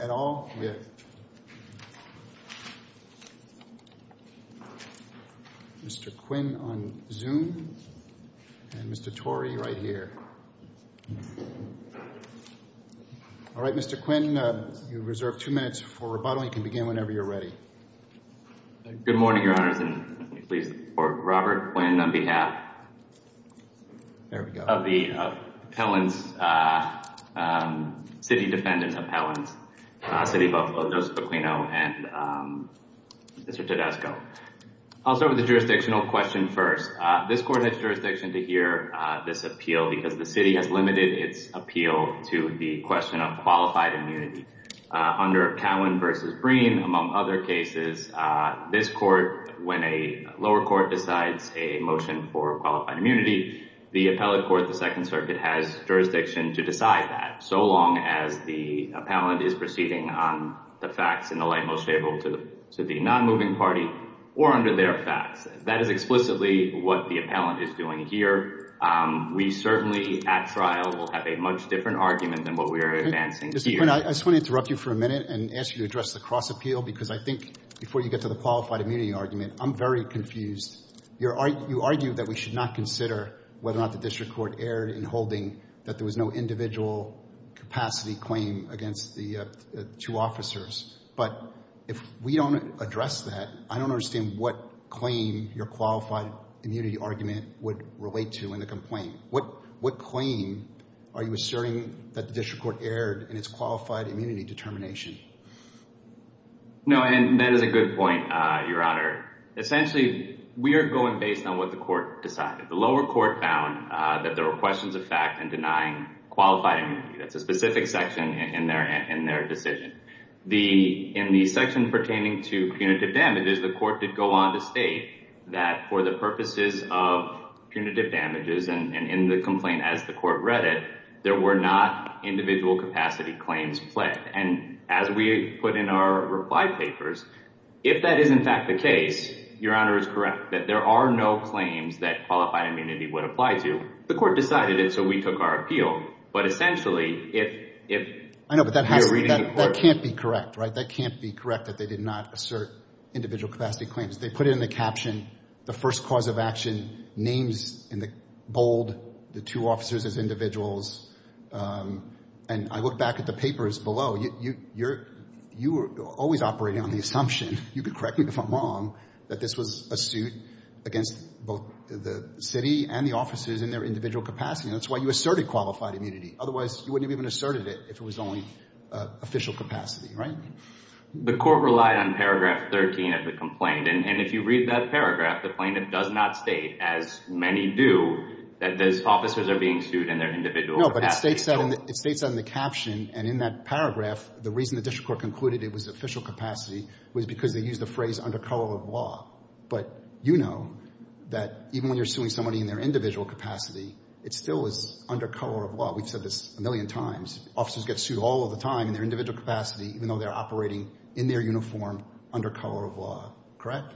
at all? Yes. Mr. Quinn on Zoom. And Mr. Torrey right here. All right, Mr. Quinn, you're reserved two minutes for rebuttal. You can begin whenever you're ready. Good morning, Your Honors, and please support Robert Quinn on behalf of the city defendants appellants, City of Buffalo, Joseph Aquino, and Mr. Tedesco. I'll start with the jurisdictional question first. This court has jurisdiction to hear this appeal because the city has limited its appeal to the question of qualified immunity. Under Cowan v. Breen, among other cases, this court, when a lower court decides a motion for qualified immunity, the appellate court, the Second Circuit, has jurisdiction to decide that so long as the appellant is proceeding on the facts in the light most favorable to the non-moving party or under their facts. That is explicitly what the appellant is doing here. We certainly, at trial, will have a much different argument than what we are advancing here. Mr. Quinn, I just want to interrupt you for a minute and ask you to address the cross-appeal because I think, before you get to the qualified immunity argument, I'm very confused. You argue that we should not consider whether or not the district court erred in holding that there was no individual capacity claim against the two officers. But if we don't address that, I don't understand what claim your qualified immunity argument would relate to in the complaint. What claim are you asserting that the district court erred in its qualified immunity determination? No, and that is a good point, Your Honor. Essentially, we are going based on what the court decided. The lower court found that there were questions of fact in denying qualified immunity. That's a specific section in their decision. In the section pertaining to punitive damages, the court did go on to state that for the purposes of punitive damages and in the complaint as the court read it, there were not individual capacity claims pledged. And as we put in our reply papers, if that is in fact the case, Your Honor is correct that there are no claims that qualified immunity would apply to. The court decided it, so we took our appeal. But essentially, if... I know, but that can't be correct, right? That can't be correct that they did not assert individual capacity claims. They put it in the caption, the first cause of action, names in the bold, the two officers as individuals. And I look back at the papers below, you were always operating on the assumption, you could correct me if I'm wrong, that this was a suit against both the city and the officers in their individual capacity. And that's why you asserted qualified immunity. Otherwise, you wouldn't have even asserted it if it was only official capacity, right? The court relied on paragraph 13 of the complaint. And if you read that paragraph, the plaintiff does not state, as many do, that those officers are being sued in their individual capacity. No, but it states that in the caption. And in that paragraph, the reason the district court concluded it was official capacity was because they used the phrase under color of law. But you know that even when you're suing somebody in their individual capacity, it still is under color of law. We've said this a million times. Officers get sued all of the time in their individual capacity, even though they're operating in their uniform under color of law, correct?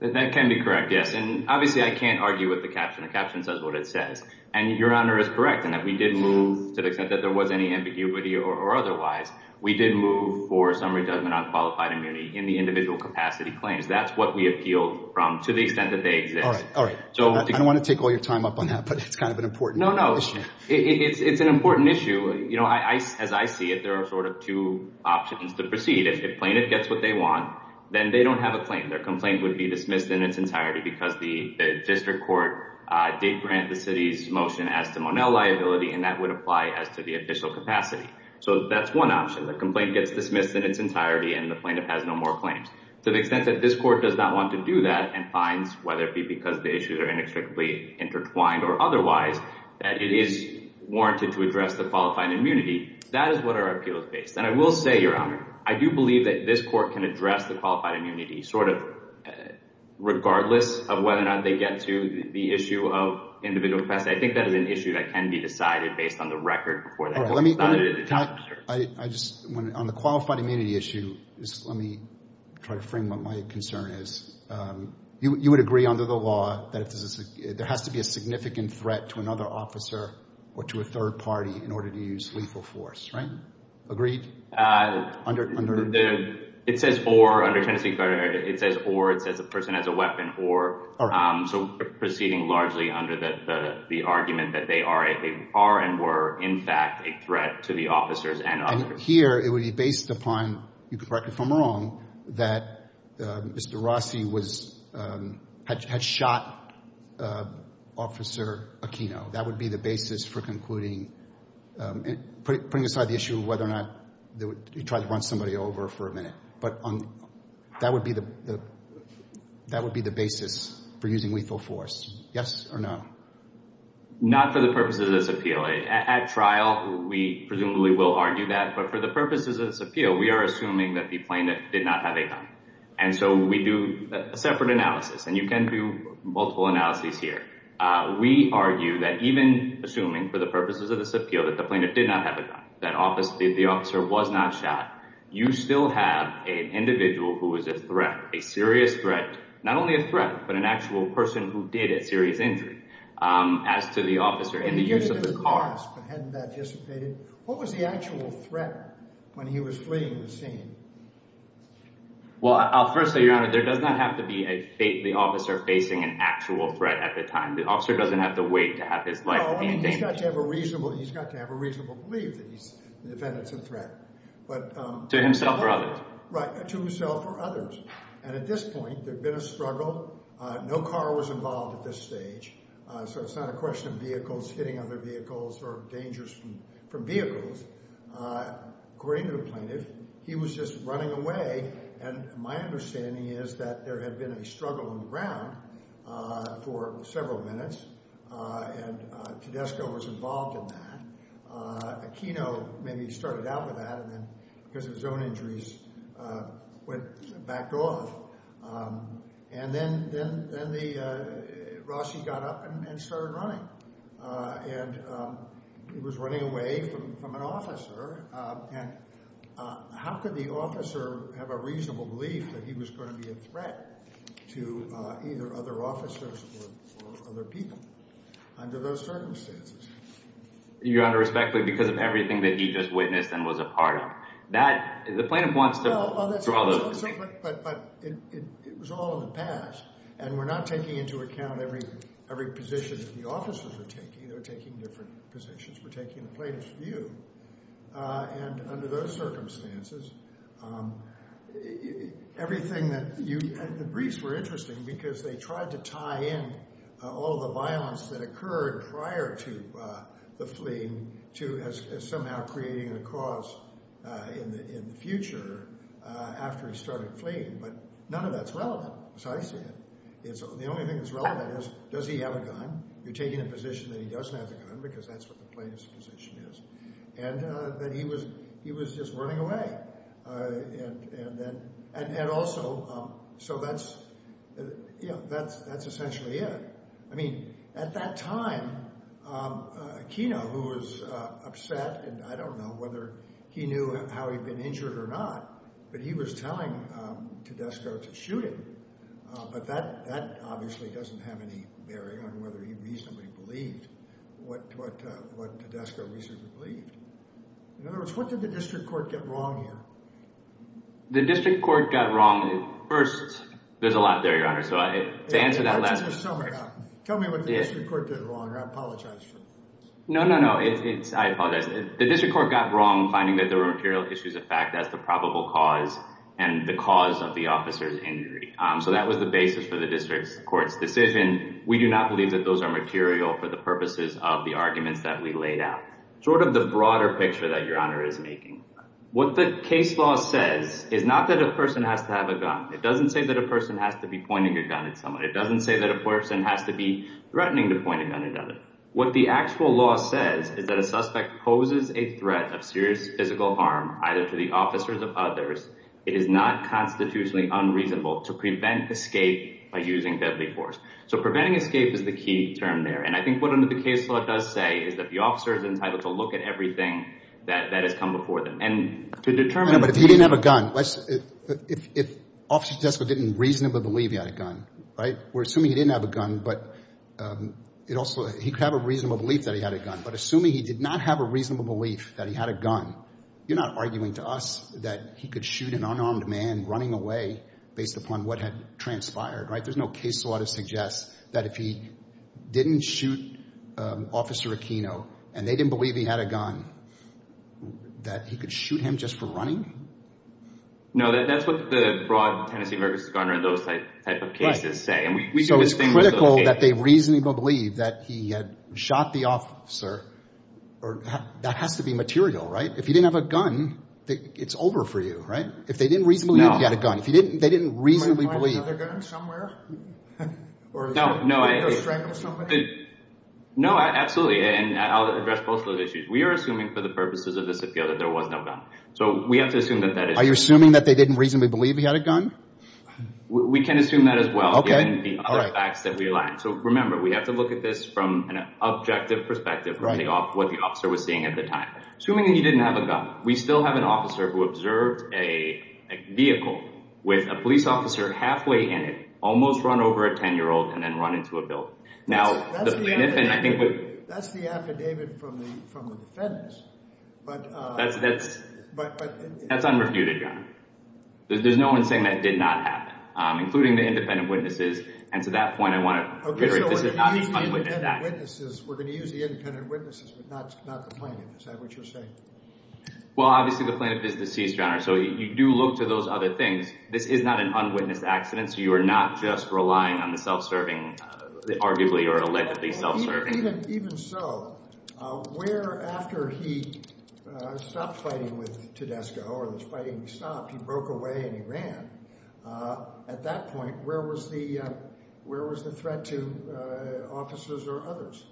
That can be correct, yes. And obviously, I can't argue with the caption. The caption says what it says. And Your Honor is correct in that we did move to the extent that there was any ambiguity or otherwise. We did move for some redundant on qualified immunity in the individual capacity claims. That's what we appealed from to the extent that they exist. All right. All right. I don't want to take all your time up on that, but it's kind of an important issue. It's an important issue. You know, as I see it, there are sort of two options to proceed. If plaintiff gets what they want, then they don't have a claim. Their complaint would be dismissed in its entirety because the district court did grant the city's motion as to Monell liability, and that would apply as to the official capacity. So that's one option. The complaint gets dismissed in its entirety, and the plaintiff has no more claims. To the extent that this court does not want to do that and finds, whether it be because the issues are inextricably intertwined or otherwise, that it is warranted to address the qualified immunity. That is what our appeal is based on. And I will say, Your Honor, I do believe that this court can address the qualified immunity sort of regardless of whether or not they get to the issue of individual capacity. I think that is an issue that can be decided based on the record before that court is decided. All right. On the qualified immunity issue, let me try to frame what my concern is. You would agree under the law that there has to be a significant threat to another officer or to a third party in order to use lethal force, right? Agreed? It says, or, under Tennessee Code, it says, or, it says a person has a weapon, or. So proceeding largely under the argument that they are and were, in fact, a threat to the officers and officers. So here it would be based upon, you can correct me if I'm wrong, that Mr. Rossi had shot Officer Aquino. That would be the basis for concluding, putting aside the issue of whether or not he tried to run somebody over for a minute. But that would be the basis for using lethal force. Yes or no? Not for the purposes of this appeal. At trial, we presumably will argue that. But for the purposes of this appeal, we are assuming that the plaintiff did not have a gun. And so we do a separate analysis, and you can do multiple analyses here. We argue that even assuming for the purposes of this appeal that the plaintiff did not have a gun, that the officer was not shot, you still have an individual who is a threat, a serious threat. Not only a threat, but an actual person who did a serious injury as to the officer and the use of the car. And he did it at a cost, but hadn't that dissipated? What was the actual threat when he was fleeing the scene? Well, I'll first say, Your Honor, there does not have to be the officer facing an actual threat at the time. The officer doesn't have to wait to have his life be in danger. He's got to have a reasonable belief that the defendant's a threat. To himself or others? Right. To himself or others. And at this point, there'd been a struggle. No car was involved at this stage, so it's not a question of vehicles hitting other vehicles or dangers from vehicles. According to the plaintiff, he was just running away, and my understanding is that there had been a struggle on the ground for several minutes, and Tedesco was involved in that. Maybe he started out with that, and then, because of his own injuries, backed off. And then Rossi got up and started running. And he was running away from an officer, and how could the officer have a reasonable belief that he was going to be a threat to either other officers or other people under those circumstances? Your Honor, respectfully, because of everything that he just witnessed and was a part of. That, the plaintiff wants to… But it was all in the past, and we're not taking into account every position that the officers are taking. They're taking different positions. We're taking the plaintiff's view. And under those circumstances, everything that you… And the briefs were interesting because they tried to tie in all the violence that occurred prior to the fleeing to somehow creating a cause in the future after he started fleeing. But none of that's relevant, as I see it. The only thing that's relevant is, does he have a gun? You're taking a position that he doesn't have a gun because that's what the plaintiff's position is. And that he was just running away. And also, so that's, you know, that's essentially it. I mean, at that time, Aquino, who was upset, and I don't know whether he knew how he'd been injured or not, but he was telling Tedesco to shoot him. But that obviously doesn't have any bearing on whether he reasonably believed what Tedesco reasonably believed. In other words, what did the district court get wrong here? The district court got wrong first. There's a lot there, Your Honor, so to answer that last question… Tell me what the district court did wrong, or I apologize for it. No, no, no. I apologize. The district court got wrong finding that there were material issues of fact. That's the probable cause and the cause of the officer's injury. So that was the basis for the district court's decision. We do not believe that those are material for the purposes of the arguments that we laid out. Sort of the broader picture that Your Honor is making. What the case law says is not that a person has to have a gun. It doesn't say that a person has to be pointing a gun at someone. It doesn't say that a person has to be threatening to point a gun at another. What the actual law says is that a suspect poses a threat of serious physical harm either to the officers or others. It is not constitutionally unreasonable to prevent escape by using deadly force. So preventing escape is the key term there. And I think what the case law does say is that the officer is entitled to look at everything that has come before them. And to determine… But if he didn't have a gun, let's… If Officer Jesko didn't reasonably believe he had a gun, right? We're assuming he didn't have a gun, but it also… He could have a reasonable belief that he had a gun. But assuming he did not have a reasonable belief that he had a gun, you're not arguing to us that he could shoot an unarmed man running away based upon what had transpired, right? There's no case law that suggests that if he didn't shoot Officer Aquino and they didn't believe he had a gun, that he could shoot him just for running? No, that's what the broad Tennessee versus Conrad Lewis type of cases say. So it's critical that they reasonably believe that he had shot the officer. That has to be material, right? If he didn't have a gun, it's over for you, right? If they didn't reasonably believe he had a gun, if they didn't reasonably believe… You wouldn't find another gun somewhere? No, no, I… You wouldn't go strangle somebody? No, absolutely. And I'll address both of those issues. We are assuming for the purposes of this appeal that there was no gun. So we have to assume that that is true. Are you assuming that they didn't reasonably believe he had a gun? We can assume that as well. Okay. And the other facts that we align. So remember, we have to look at this from an objective perspective of what the officer was seeing at the time. Assuming that he didn't have a gun, we still have an officer who observed a vehicle with a police officer halfway in it, almost run over a 10-year-old, and then run into a building. Now… That's the affidavit from the defendants. But… That's unrefuted, Your Honor. There's no one saying that did not happen, including the independent witnesses. And to that point, I want to… Okay, so we're going to use the independent witnesses. We're going to use the independent witnesses, but not the plaintiffs. Is that what you're saying? Well, obviously, the plaintiff is deceased, Your Honor, so you do look to those other things. This is not an unwitnessed accident, so you are not just relying on the self-serving, arguably or allegedly self-serving. Even so, where, after he stopped fighting with Tedesco or the fighting stopped, he broke away and he ran, at that point, where was the threat to officers or others?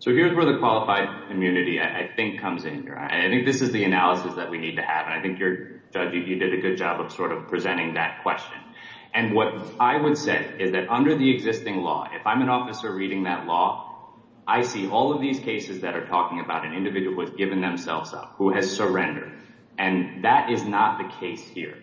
So here's where the qualified immunity, I think, comes in, Your Honor. I think this is the analysis that we need to have, and I think, Judge, you did a good job of sort of presenting that question. And what I would say is that under the existing law, if I'm an officer reading that law, I see all of these cases that are talking about an individual who has given themselves up, who has surrendered, and that is not the case here.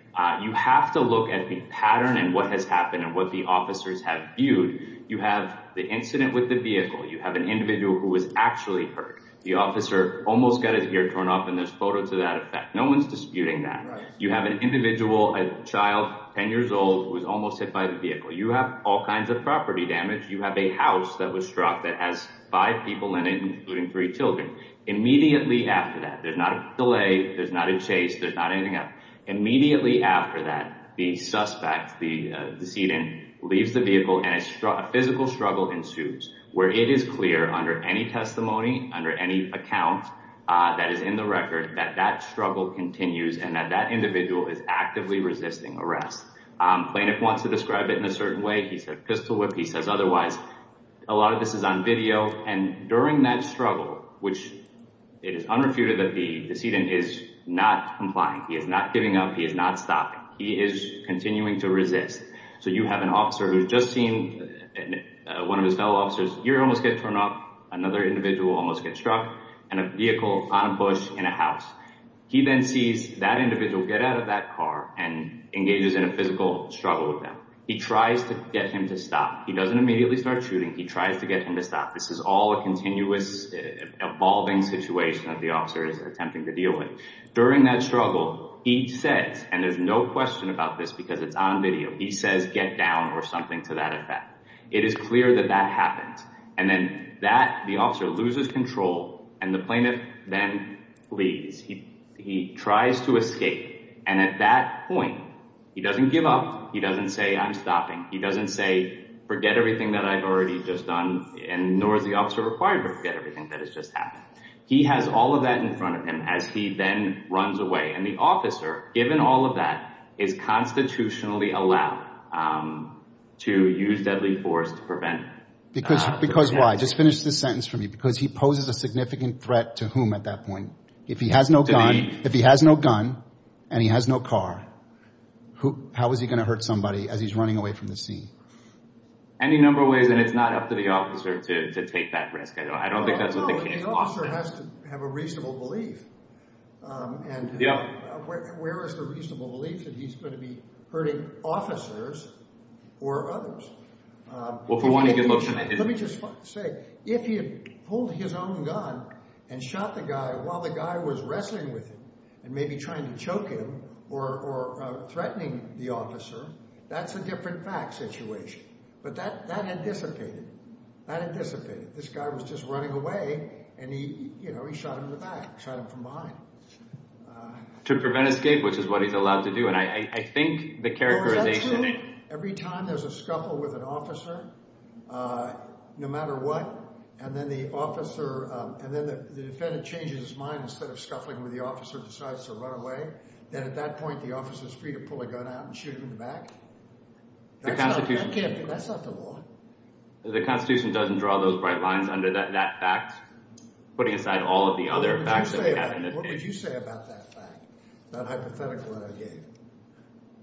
You have to look at the pattern and what has happened and what the officers have viewed. You have the incident with the vehicle. You have an individual who was actually hurt. The officer almost got his ear torn off, and there's photo to that effect. No one's disputing that. You have an individual, a child, 10 years old, who was almost hit by the vehicle. You have all kinds of property damage. You have a house that was struck that has five people in it, including three children. Immediately after that, there's not a delay, there's not a chase, there's not anything else. Immediately after that, the suspect, the decedent, leaves the vehicle and a physical struggle ensues where it is clear under any testimony, under any account that is in the record, that that struggle continues and that that individual is actively resisting arrest. Plaintiff wants to describe it in a certain way. He said pistol whip. He says otherwise. A lot of this is on video. And during that struggle, which it is unrefuted that the decedent is not complying, he is not giving up, he is not stopping. He is continuing to resist. So you have an officer who's just seen one of his fellow officers' ear almost get torn off, another individual almost get struck, and a vehicle on a bush in a house. He then sees that individual get out of that car and engages in a physical struggle with them. He tries to get him to stop. He doesn't immediately start shooting. He tries to get him to stop. This is all a continuous, evolving situation that the officer is attempting to deal with. During that struggle, he says, and there's no question about this because it's on video, he says get down or something to that effect. It is clear that that happens. And then that, the officer loses control, and the plaintiff then leaves. He tries to escape. And at that point, he doesn't give up. He doesn't say I'm stopping. He doesn't say forget everything that I've already just done, nor is the officer required to forget everything that has just happened. He has all of that in front of him as he then runs away. And the officer, given all of that, is constitutionally allowed to use deadly force to prevent that. Because why? Just finish this sentence for me. Because he poses a significant threat to whom at that point? If he has no gun and he has no car, how is he going to hurt somebody as he's running away from the sea? Any number of ways, and it's not up to the officer to take that risk. I don't think that's what the case law says. No, the officer has to have a reasonable belief. And where is the reasonable belief that he's going to be hurting officers or others? Well, if you want to get motion, I didn't. Let me just say, if he had pulled his own gun and shot the guy while the guy was wrestling with him and maybe trying to choke him or threatening the officer, that's a different fact situation. But that had dissipated. That had dissipated. This guy was just running away, and he shot him in the back, shot him from behind. To prevent escape, which is what he's allowed to do. And I think the characterization— Every time there's a scuffle with an officer, no matter what, and then the officer— and then the defendant changes his mind instead of scuffling with the officer and decides to run away, then at that point the officer is free to pull a gun out and shoot him in the back? That's not the law. The Constitution doesn't draw those bright lines under that fact, putting aside all of the other facts. What would you say about that fact, that hypothetical that I gave?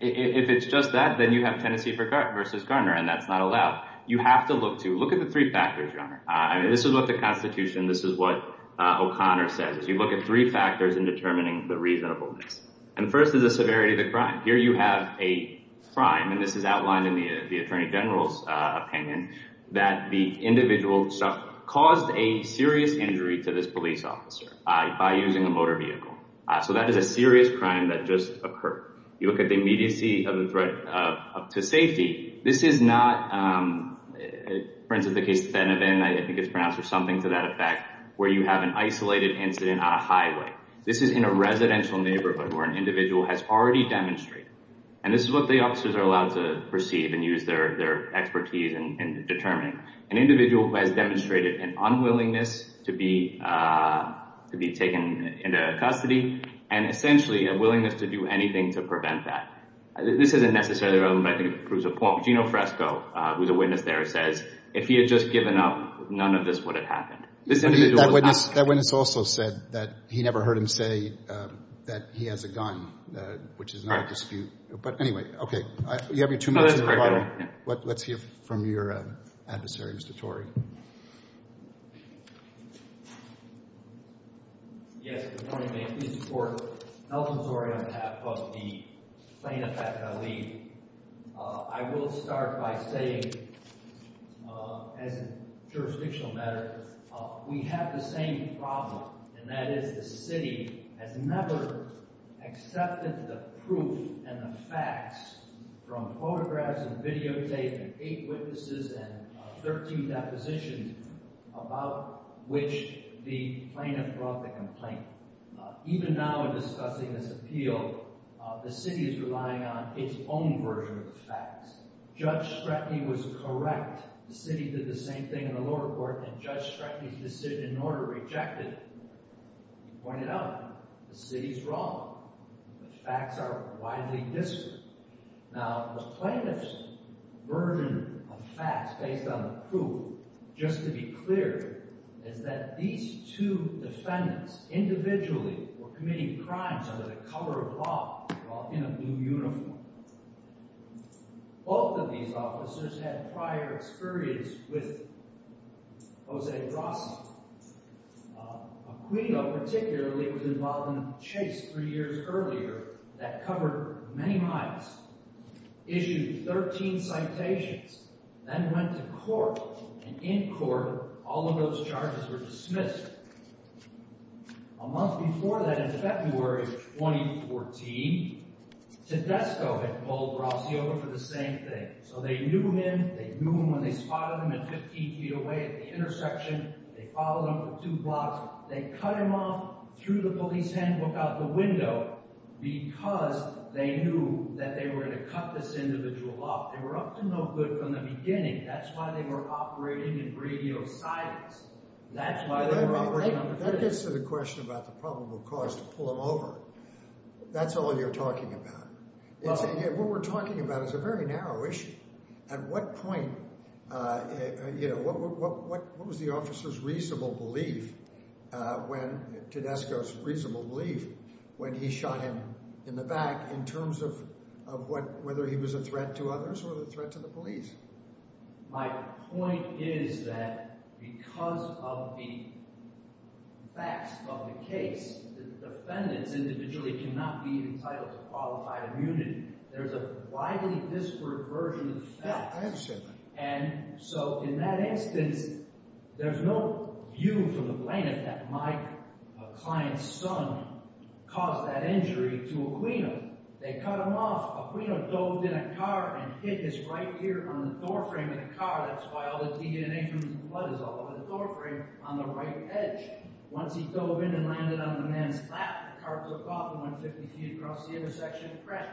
If it's just that, then you have Tennessee v. Garner, and that's not allowed. You have to look to—look at the three factors, Your Honor. This is what the Constitution, this is what O'Connor says. You look at three factors in determining the reasonableness. And first is the severity of the crime. Here you have a crime, and this is outlined in the attorney general's opinion, that the individual caused a serious injury to this police officer by using a motor vehicle. So that is a serious crime that just occurred. You look at the immediacy of the threat to safety. This is not—for instance, the case of Benavent, I think it's pronounced for something to that effect, where you have an isolated incident on a highway. This is in a residential neighborhood where an individual has already demonstrated, and this is what the officers are allowed to perceive and use their expertise in determining, an individual who has demonstrated an unwillingness to be taken into custody and essentially a willingness to do anything to prevent that. This isn't necessarily relevant, but I think it proves a point. Gino Fresco, who's a witness there, says if he had just given up, none of this would have happened. That witness also said that he never heard him say that he has a gun, which is not a dispute. But anyway, okay. You have your two minutes at the bottom. Let's hear from your adversary, Mr. Torrey. Yes. Good morning, ma'am. Please support Elton Torrey on behalf of the plaintiff at L.E. I will start by saying, as a jurisdictional matter, we have the same problem, and that is the city has never accepted the proof and the facts from photographs and videotapes and eight witnesses and 13 depositions about which the plaintiff brought the complaint. Even now in discussing this appeal, the city is relying on its own version of the facts. Judge Stratney was correct. The city did the same thing in the lower court, and Judge Stratney's decision in order rejected it. He pointed out the city's wrong. The facts are widely disparate. Now, the plaintiff's version of facts based on the proof, just to be clear, is that these two defendants individually were committing crimes under the cover of law while in a blue uniform. Both of these officers had prior experience with Jose Brasi. Aquino particularly was involved in a chase three years earlier that covered many miles, issued 13 citations, then went to court, and in court all of those charges were dismissed. A month before that, in February of 2014, Tedesco had pulled Brasi over for the same thing. So they knew him. They knew him when they spotted him at 15 feet away at the intersection. They followed him for two blocks. They cut him off through the police handbook out the window because they knew that they were going to cut this individual off. They were up to no good from the beginning. That's why they were operating in radio silence. That's why they were operating under cover. That gets to the question about the probable cause to pull him over. That's all you're talking about. What we're talking about is a very narrow issue. At what point, you know, what was the officer's reasonable belief when Tedesco's reasonable belief when he shot him in the back in terms of whether he was a threat to others or a threat to the police? My point is that because of the facts of the case, the defendants individually cannot be entitled to qualified immunity. There's a widely disparate version of the facts. I understand that. And so in that instance, there's no view from the plaintiff that my client's son caused that injury to Aquino. They cut him off. Aquino dove in a car and hit his right ear on the doorframe of the car. That's why all the DNA from his blood is all over the doorframe on the right edge. Once he dove in and landed on the man's lap, the car took off and went 50 feet across the intersection and crashed.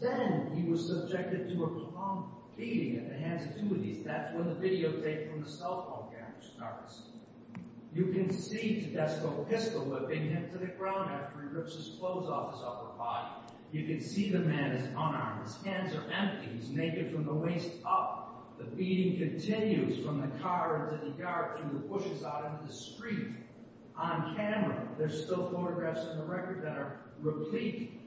Then he was subjected to a prolonged beating at the hands of two of these. That's when the videotape from the cell phone camera starts. You can see Tedesco pistol-whipping him to the ground after he rips his clothes off his upper body. You can see the man is unarmed. His hands are empty. He's naked from the waist up. The beating continues from the car into the yard to the bushes out into the street. On camera, there's still photographs in the record that are replete.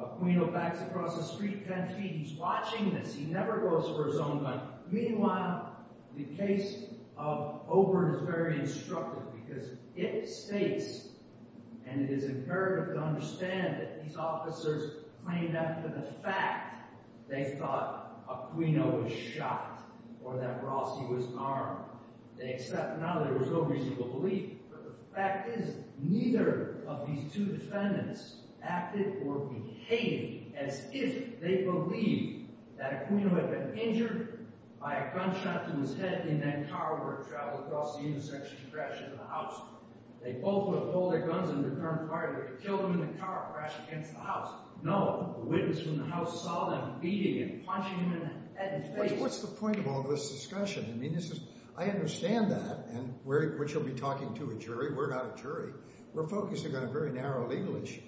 Aquino backs across the street 10 feet. He's watching this. He never goes for his own life. Meanwhile, the case of Obert is very instructive because it states, and it is imperative to understand, that these officers claimed after the fact they thought Aquino was shot or that Rossi was armed. They accept now that there was no reason to believe. But the fact is, neither of these two defendants acted or behaved as if they believed that Aquino had been injured by a gunshot to his head in that car where it traveled across the intersection and crashed into the house. They both would have pulled their guns in the car and killed him in the car and crashed against the house. No, the witness in the house saw them beating and punching him in the head in his face. What's the point of all this discussion? I mean, I understand that, which you'll be talking to a jury. We're not a jury. We're focusing on a very narrow legal issue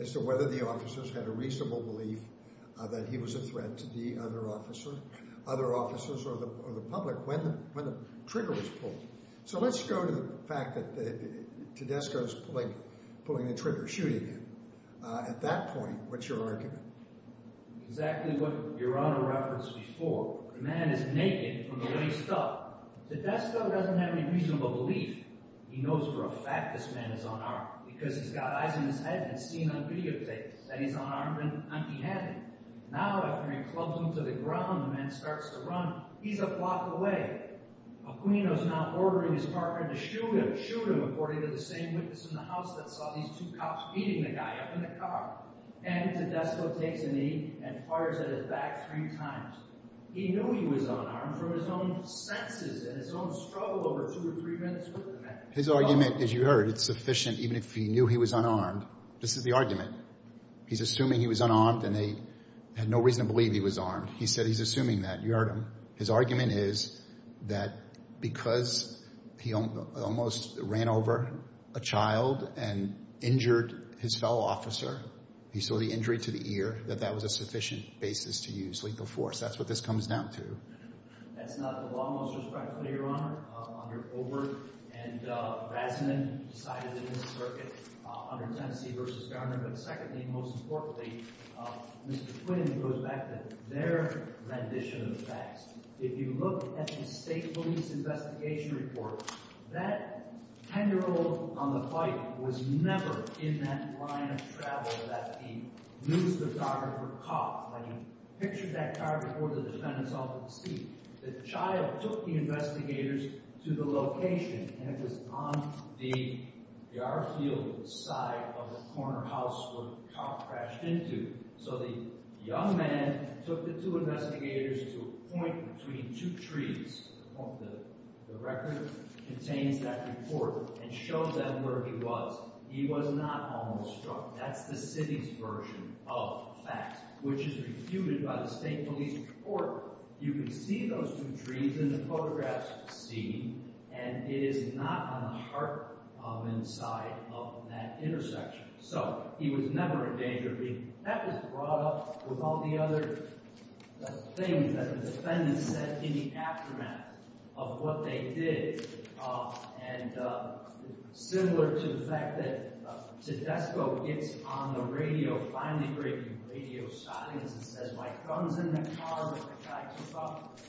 as to whether the officers had a reasonable belief that he was a threat to the other officer, other officers, or the public when the trigger was pulled. So let's go to the fact that Tedesco's pulling the trigger, shooting him. At that point, what's your argument? Exactly what Your Honor referenced before. The man is naked from the waist up. Tedesco doesn't have any reasonable belief he knows for a fact this man is unarmed because he's got eyes in his head and it's seen on videotapes that he's unarmed and unbehaving. Now, after he clubs him to the ground, the man starts to run. He's a block away. Aquino's now ordering his partner to shoot him according to the same witness in the house that saw these two cops beating the guy up in the car. Tedesco takes a knee and fires at his back three times. He knew he was unarmed from his own senses and his own struggle over two or three minutes with the man. His argument, as you heard, it's sufficient even if he knew he was unarmed. This is the argument. He's assuming he was unarmed and they had no reason to believe he was armed. He said he's assuming that. You heard him. His argument is that because he almost ran over a child and injured his fellow officer, he saw the injury to the ear, that that was a sufficient basis to use lethal force. That's what this comes down to. That's not the law most respectfully, Your Honor. Under Obert and Razman decided in this circuit under Tennessee v. Gardner. But secondly, most importantly, Mr. Quinn goes back to their rendition of the facts. If you look at the state police investigation report, that 10-year-old on the bike was never in that line of travel that the news photographer caught. When he pictured that car before the defendants all took a seat, the child took the investigators to the location, and it was on the yard field side of the corner house where the cop crashed into. So the young man took the two investigators to a point between two trees. The record contains that report and showed them where he was. He was not almost struck. That's the city's version of facts, which is refuted by the state police report. You can see those two trees in the photographs seen, and it is not on the heart inside of that intersection. So he was never in danger. That was brought up with all the other things that the defendants said in the aftermath of what they did. And similar to the fact that Tedesco gets on the radio, finally breaking radio silence, and says, My gun's in the car with the facts about it,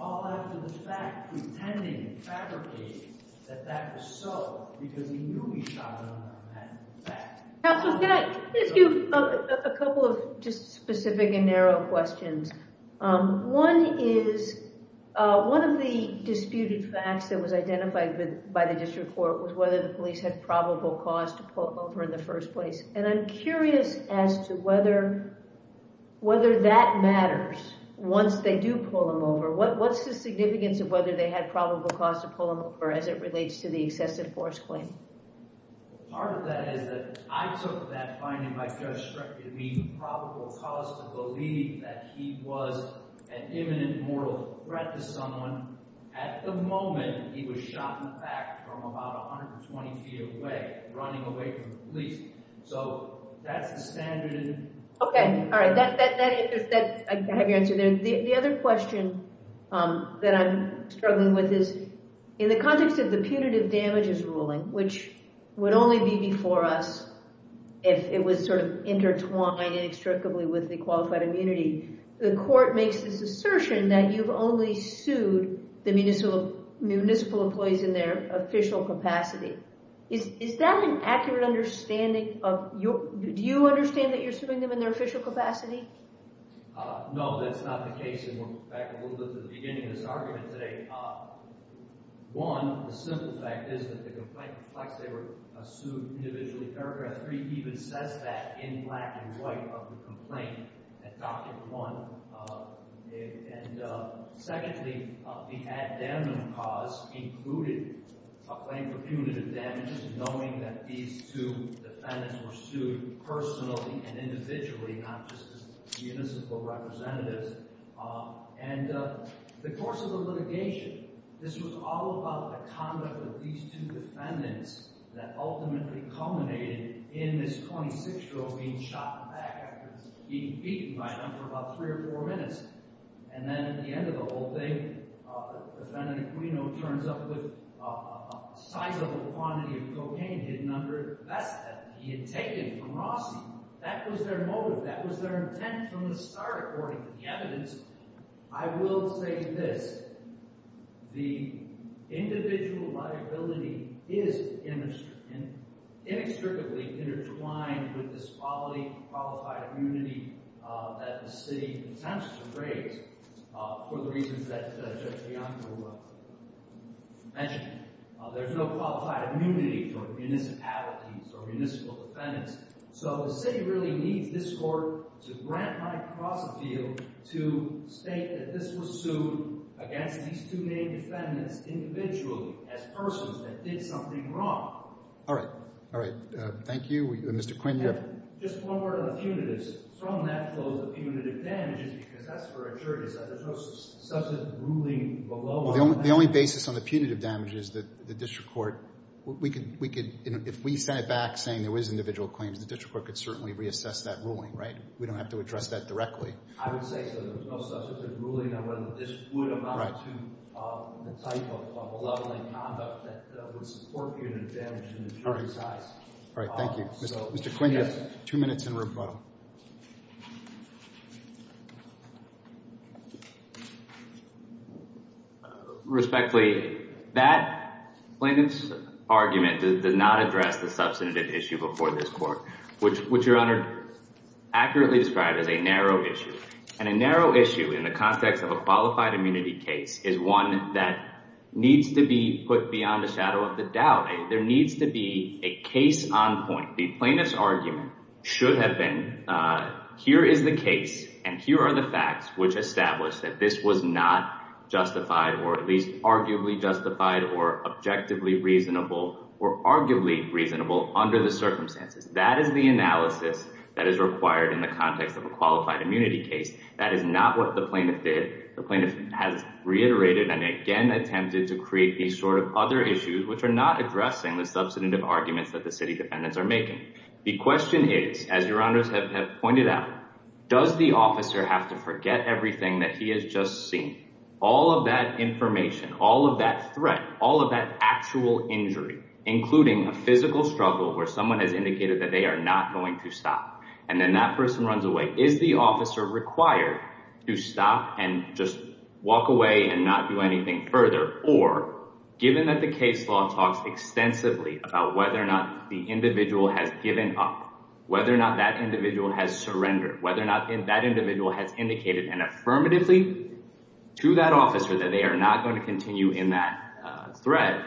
all after the fact, pretending and fabricating that that was so, because he knew he shot another man in the back. Counsel, can I ask you a couple of just specific and narrow questions? One is, one of the disputed facts that was identified by the district court was whether the police had probable cause to pull him over in the first place. And I'm curious as to whether that matters once they do pull him over. What's the significance of whether they had probable cause to pull him over as it relates to the excessive force claim? Part of that is that I took that finding by Judge Streck to mean probable cause to believe that he was an imminent moral threat to someone. At the moment, he was shot in the back from about 120 feet away, running away from the police. So that's the standard. Okay, all right. I have your answer there. The other question that I'm struggling with is, in the context of the punitive damages ruling, which would only be before us if it was sort of intertwined inextricably with the qualified immunity, the court makes this assertion that you've only sued the municipal employees in their official capacity. Is that an accurate understanding? Do you understand that you're suing them in their official capacity? No, that's not the case, and we're back a little bit to the beginning of this argument today. One, the simple fact is that the complaint reflects they were sued individually. Paragraph 3 even says that in black and white of the complaint at Doctrine 1. And secondly, the addendum clause included a claim for punitive damages, knowing that these two defendants were sued personally and individually, not just as municipal representatives. And the course of the litigation, this was all about the conduct of these two defendants that ultimately culminated in this 26-year-old being shot in the back after being beaten by them for about three or four minutes. And then at the end of the whole thing, defendant Aquino turns up with a sizable quantity of cocaine hidden under his vest that he had taken from Rossi. That was their motive. That was their intent from the start, according to the evidence. I will say this. The individual liability is inextricably intertwined with this qualified immunity that the city intends to raise for the reasons that Judge Bianco mentioned. There's no qualified immunity for municipalities or municipal defendants. So the city really needs this court to grant my cross-appeal to state that this was sued against these two main defendants individually as persons that did something wrong. All right. All right. Thank you, Mr. Quinn. Just one word on the punitives. From that clause, the punitive damages, because that's for a jury. There's no substantive ruling below that. Well, the only basis on the punitive damage is the district court. We could, if we sent it back saying there was individual claims, the district court could certainly reassess that ruling, right? We don't have to address that directly. I would say so. There's no substantive ruling on whether this would amount to the type of malevolent conduct that would support punitive damage in the jury's eyes. All right. Thank you. Mr. Quinn, you have two minutes in rebuttal. Respectfully, that plaintiff's argument does not address the substantive issue before this court, which Your Honor accurately described as a narrow issue. And a narrow issue in the context of a qualified immunity case is one that needs to be put beyond the shadow of the doubt. There needs to be a case on point. The plaintiff's argument should have been here is the case and here are the facts which establish that this was not justified or at least arguably justified or objectively reasonable or arguably reasonable under the circumstances. That is the analysis that is required in the context of a qualified immunity case. That is not what the plaintiff did. The plaintiff has reiterated and again attempted to create these sort of other issues which are not addressing the substantive arguments that the city defendants are making. The question is, as Your Honors have pointed out, does the officer have to forget everything that he has just seen? All of that information, all of that threat, all of that actual injury, including a physical struggle where someone has indicated that they are not going to stop. And then that person runs away. Is the officer required to stop and just walk away and not do anything further? Or given that the case law talks extensively about whether or not the individual has given up, whether or not that individual has surrendered, whether or not that individual has indicated an affirmatively to that officer that they are not going to continue in that threat.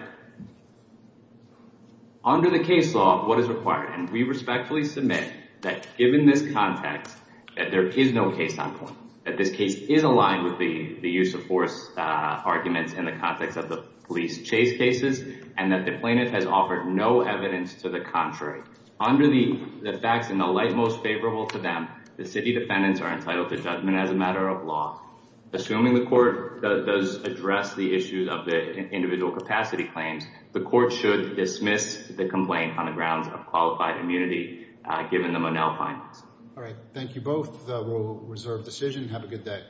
Under the case law, what is required? And we respectfully submit that given this context, that there is no case on point. That this case is aligned with the use of force arguments in the context of the police chase cases and that the plaintiff has offered no evidence to the contrary. Under the facts in the light most favorable to them, the city defendants are entitled to judgment as a matter of law. Assuming the court does address the issues of the individual capacity claims, the court should dismiss the complaint on the grounds of qualified immunity given the Monell findings. All right. Thank you both. We'll reserve decision. Have a good day.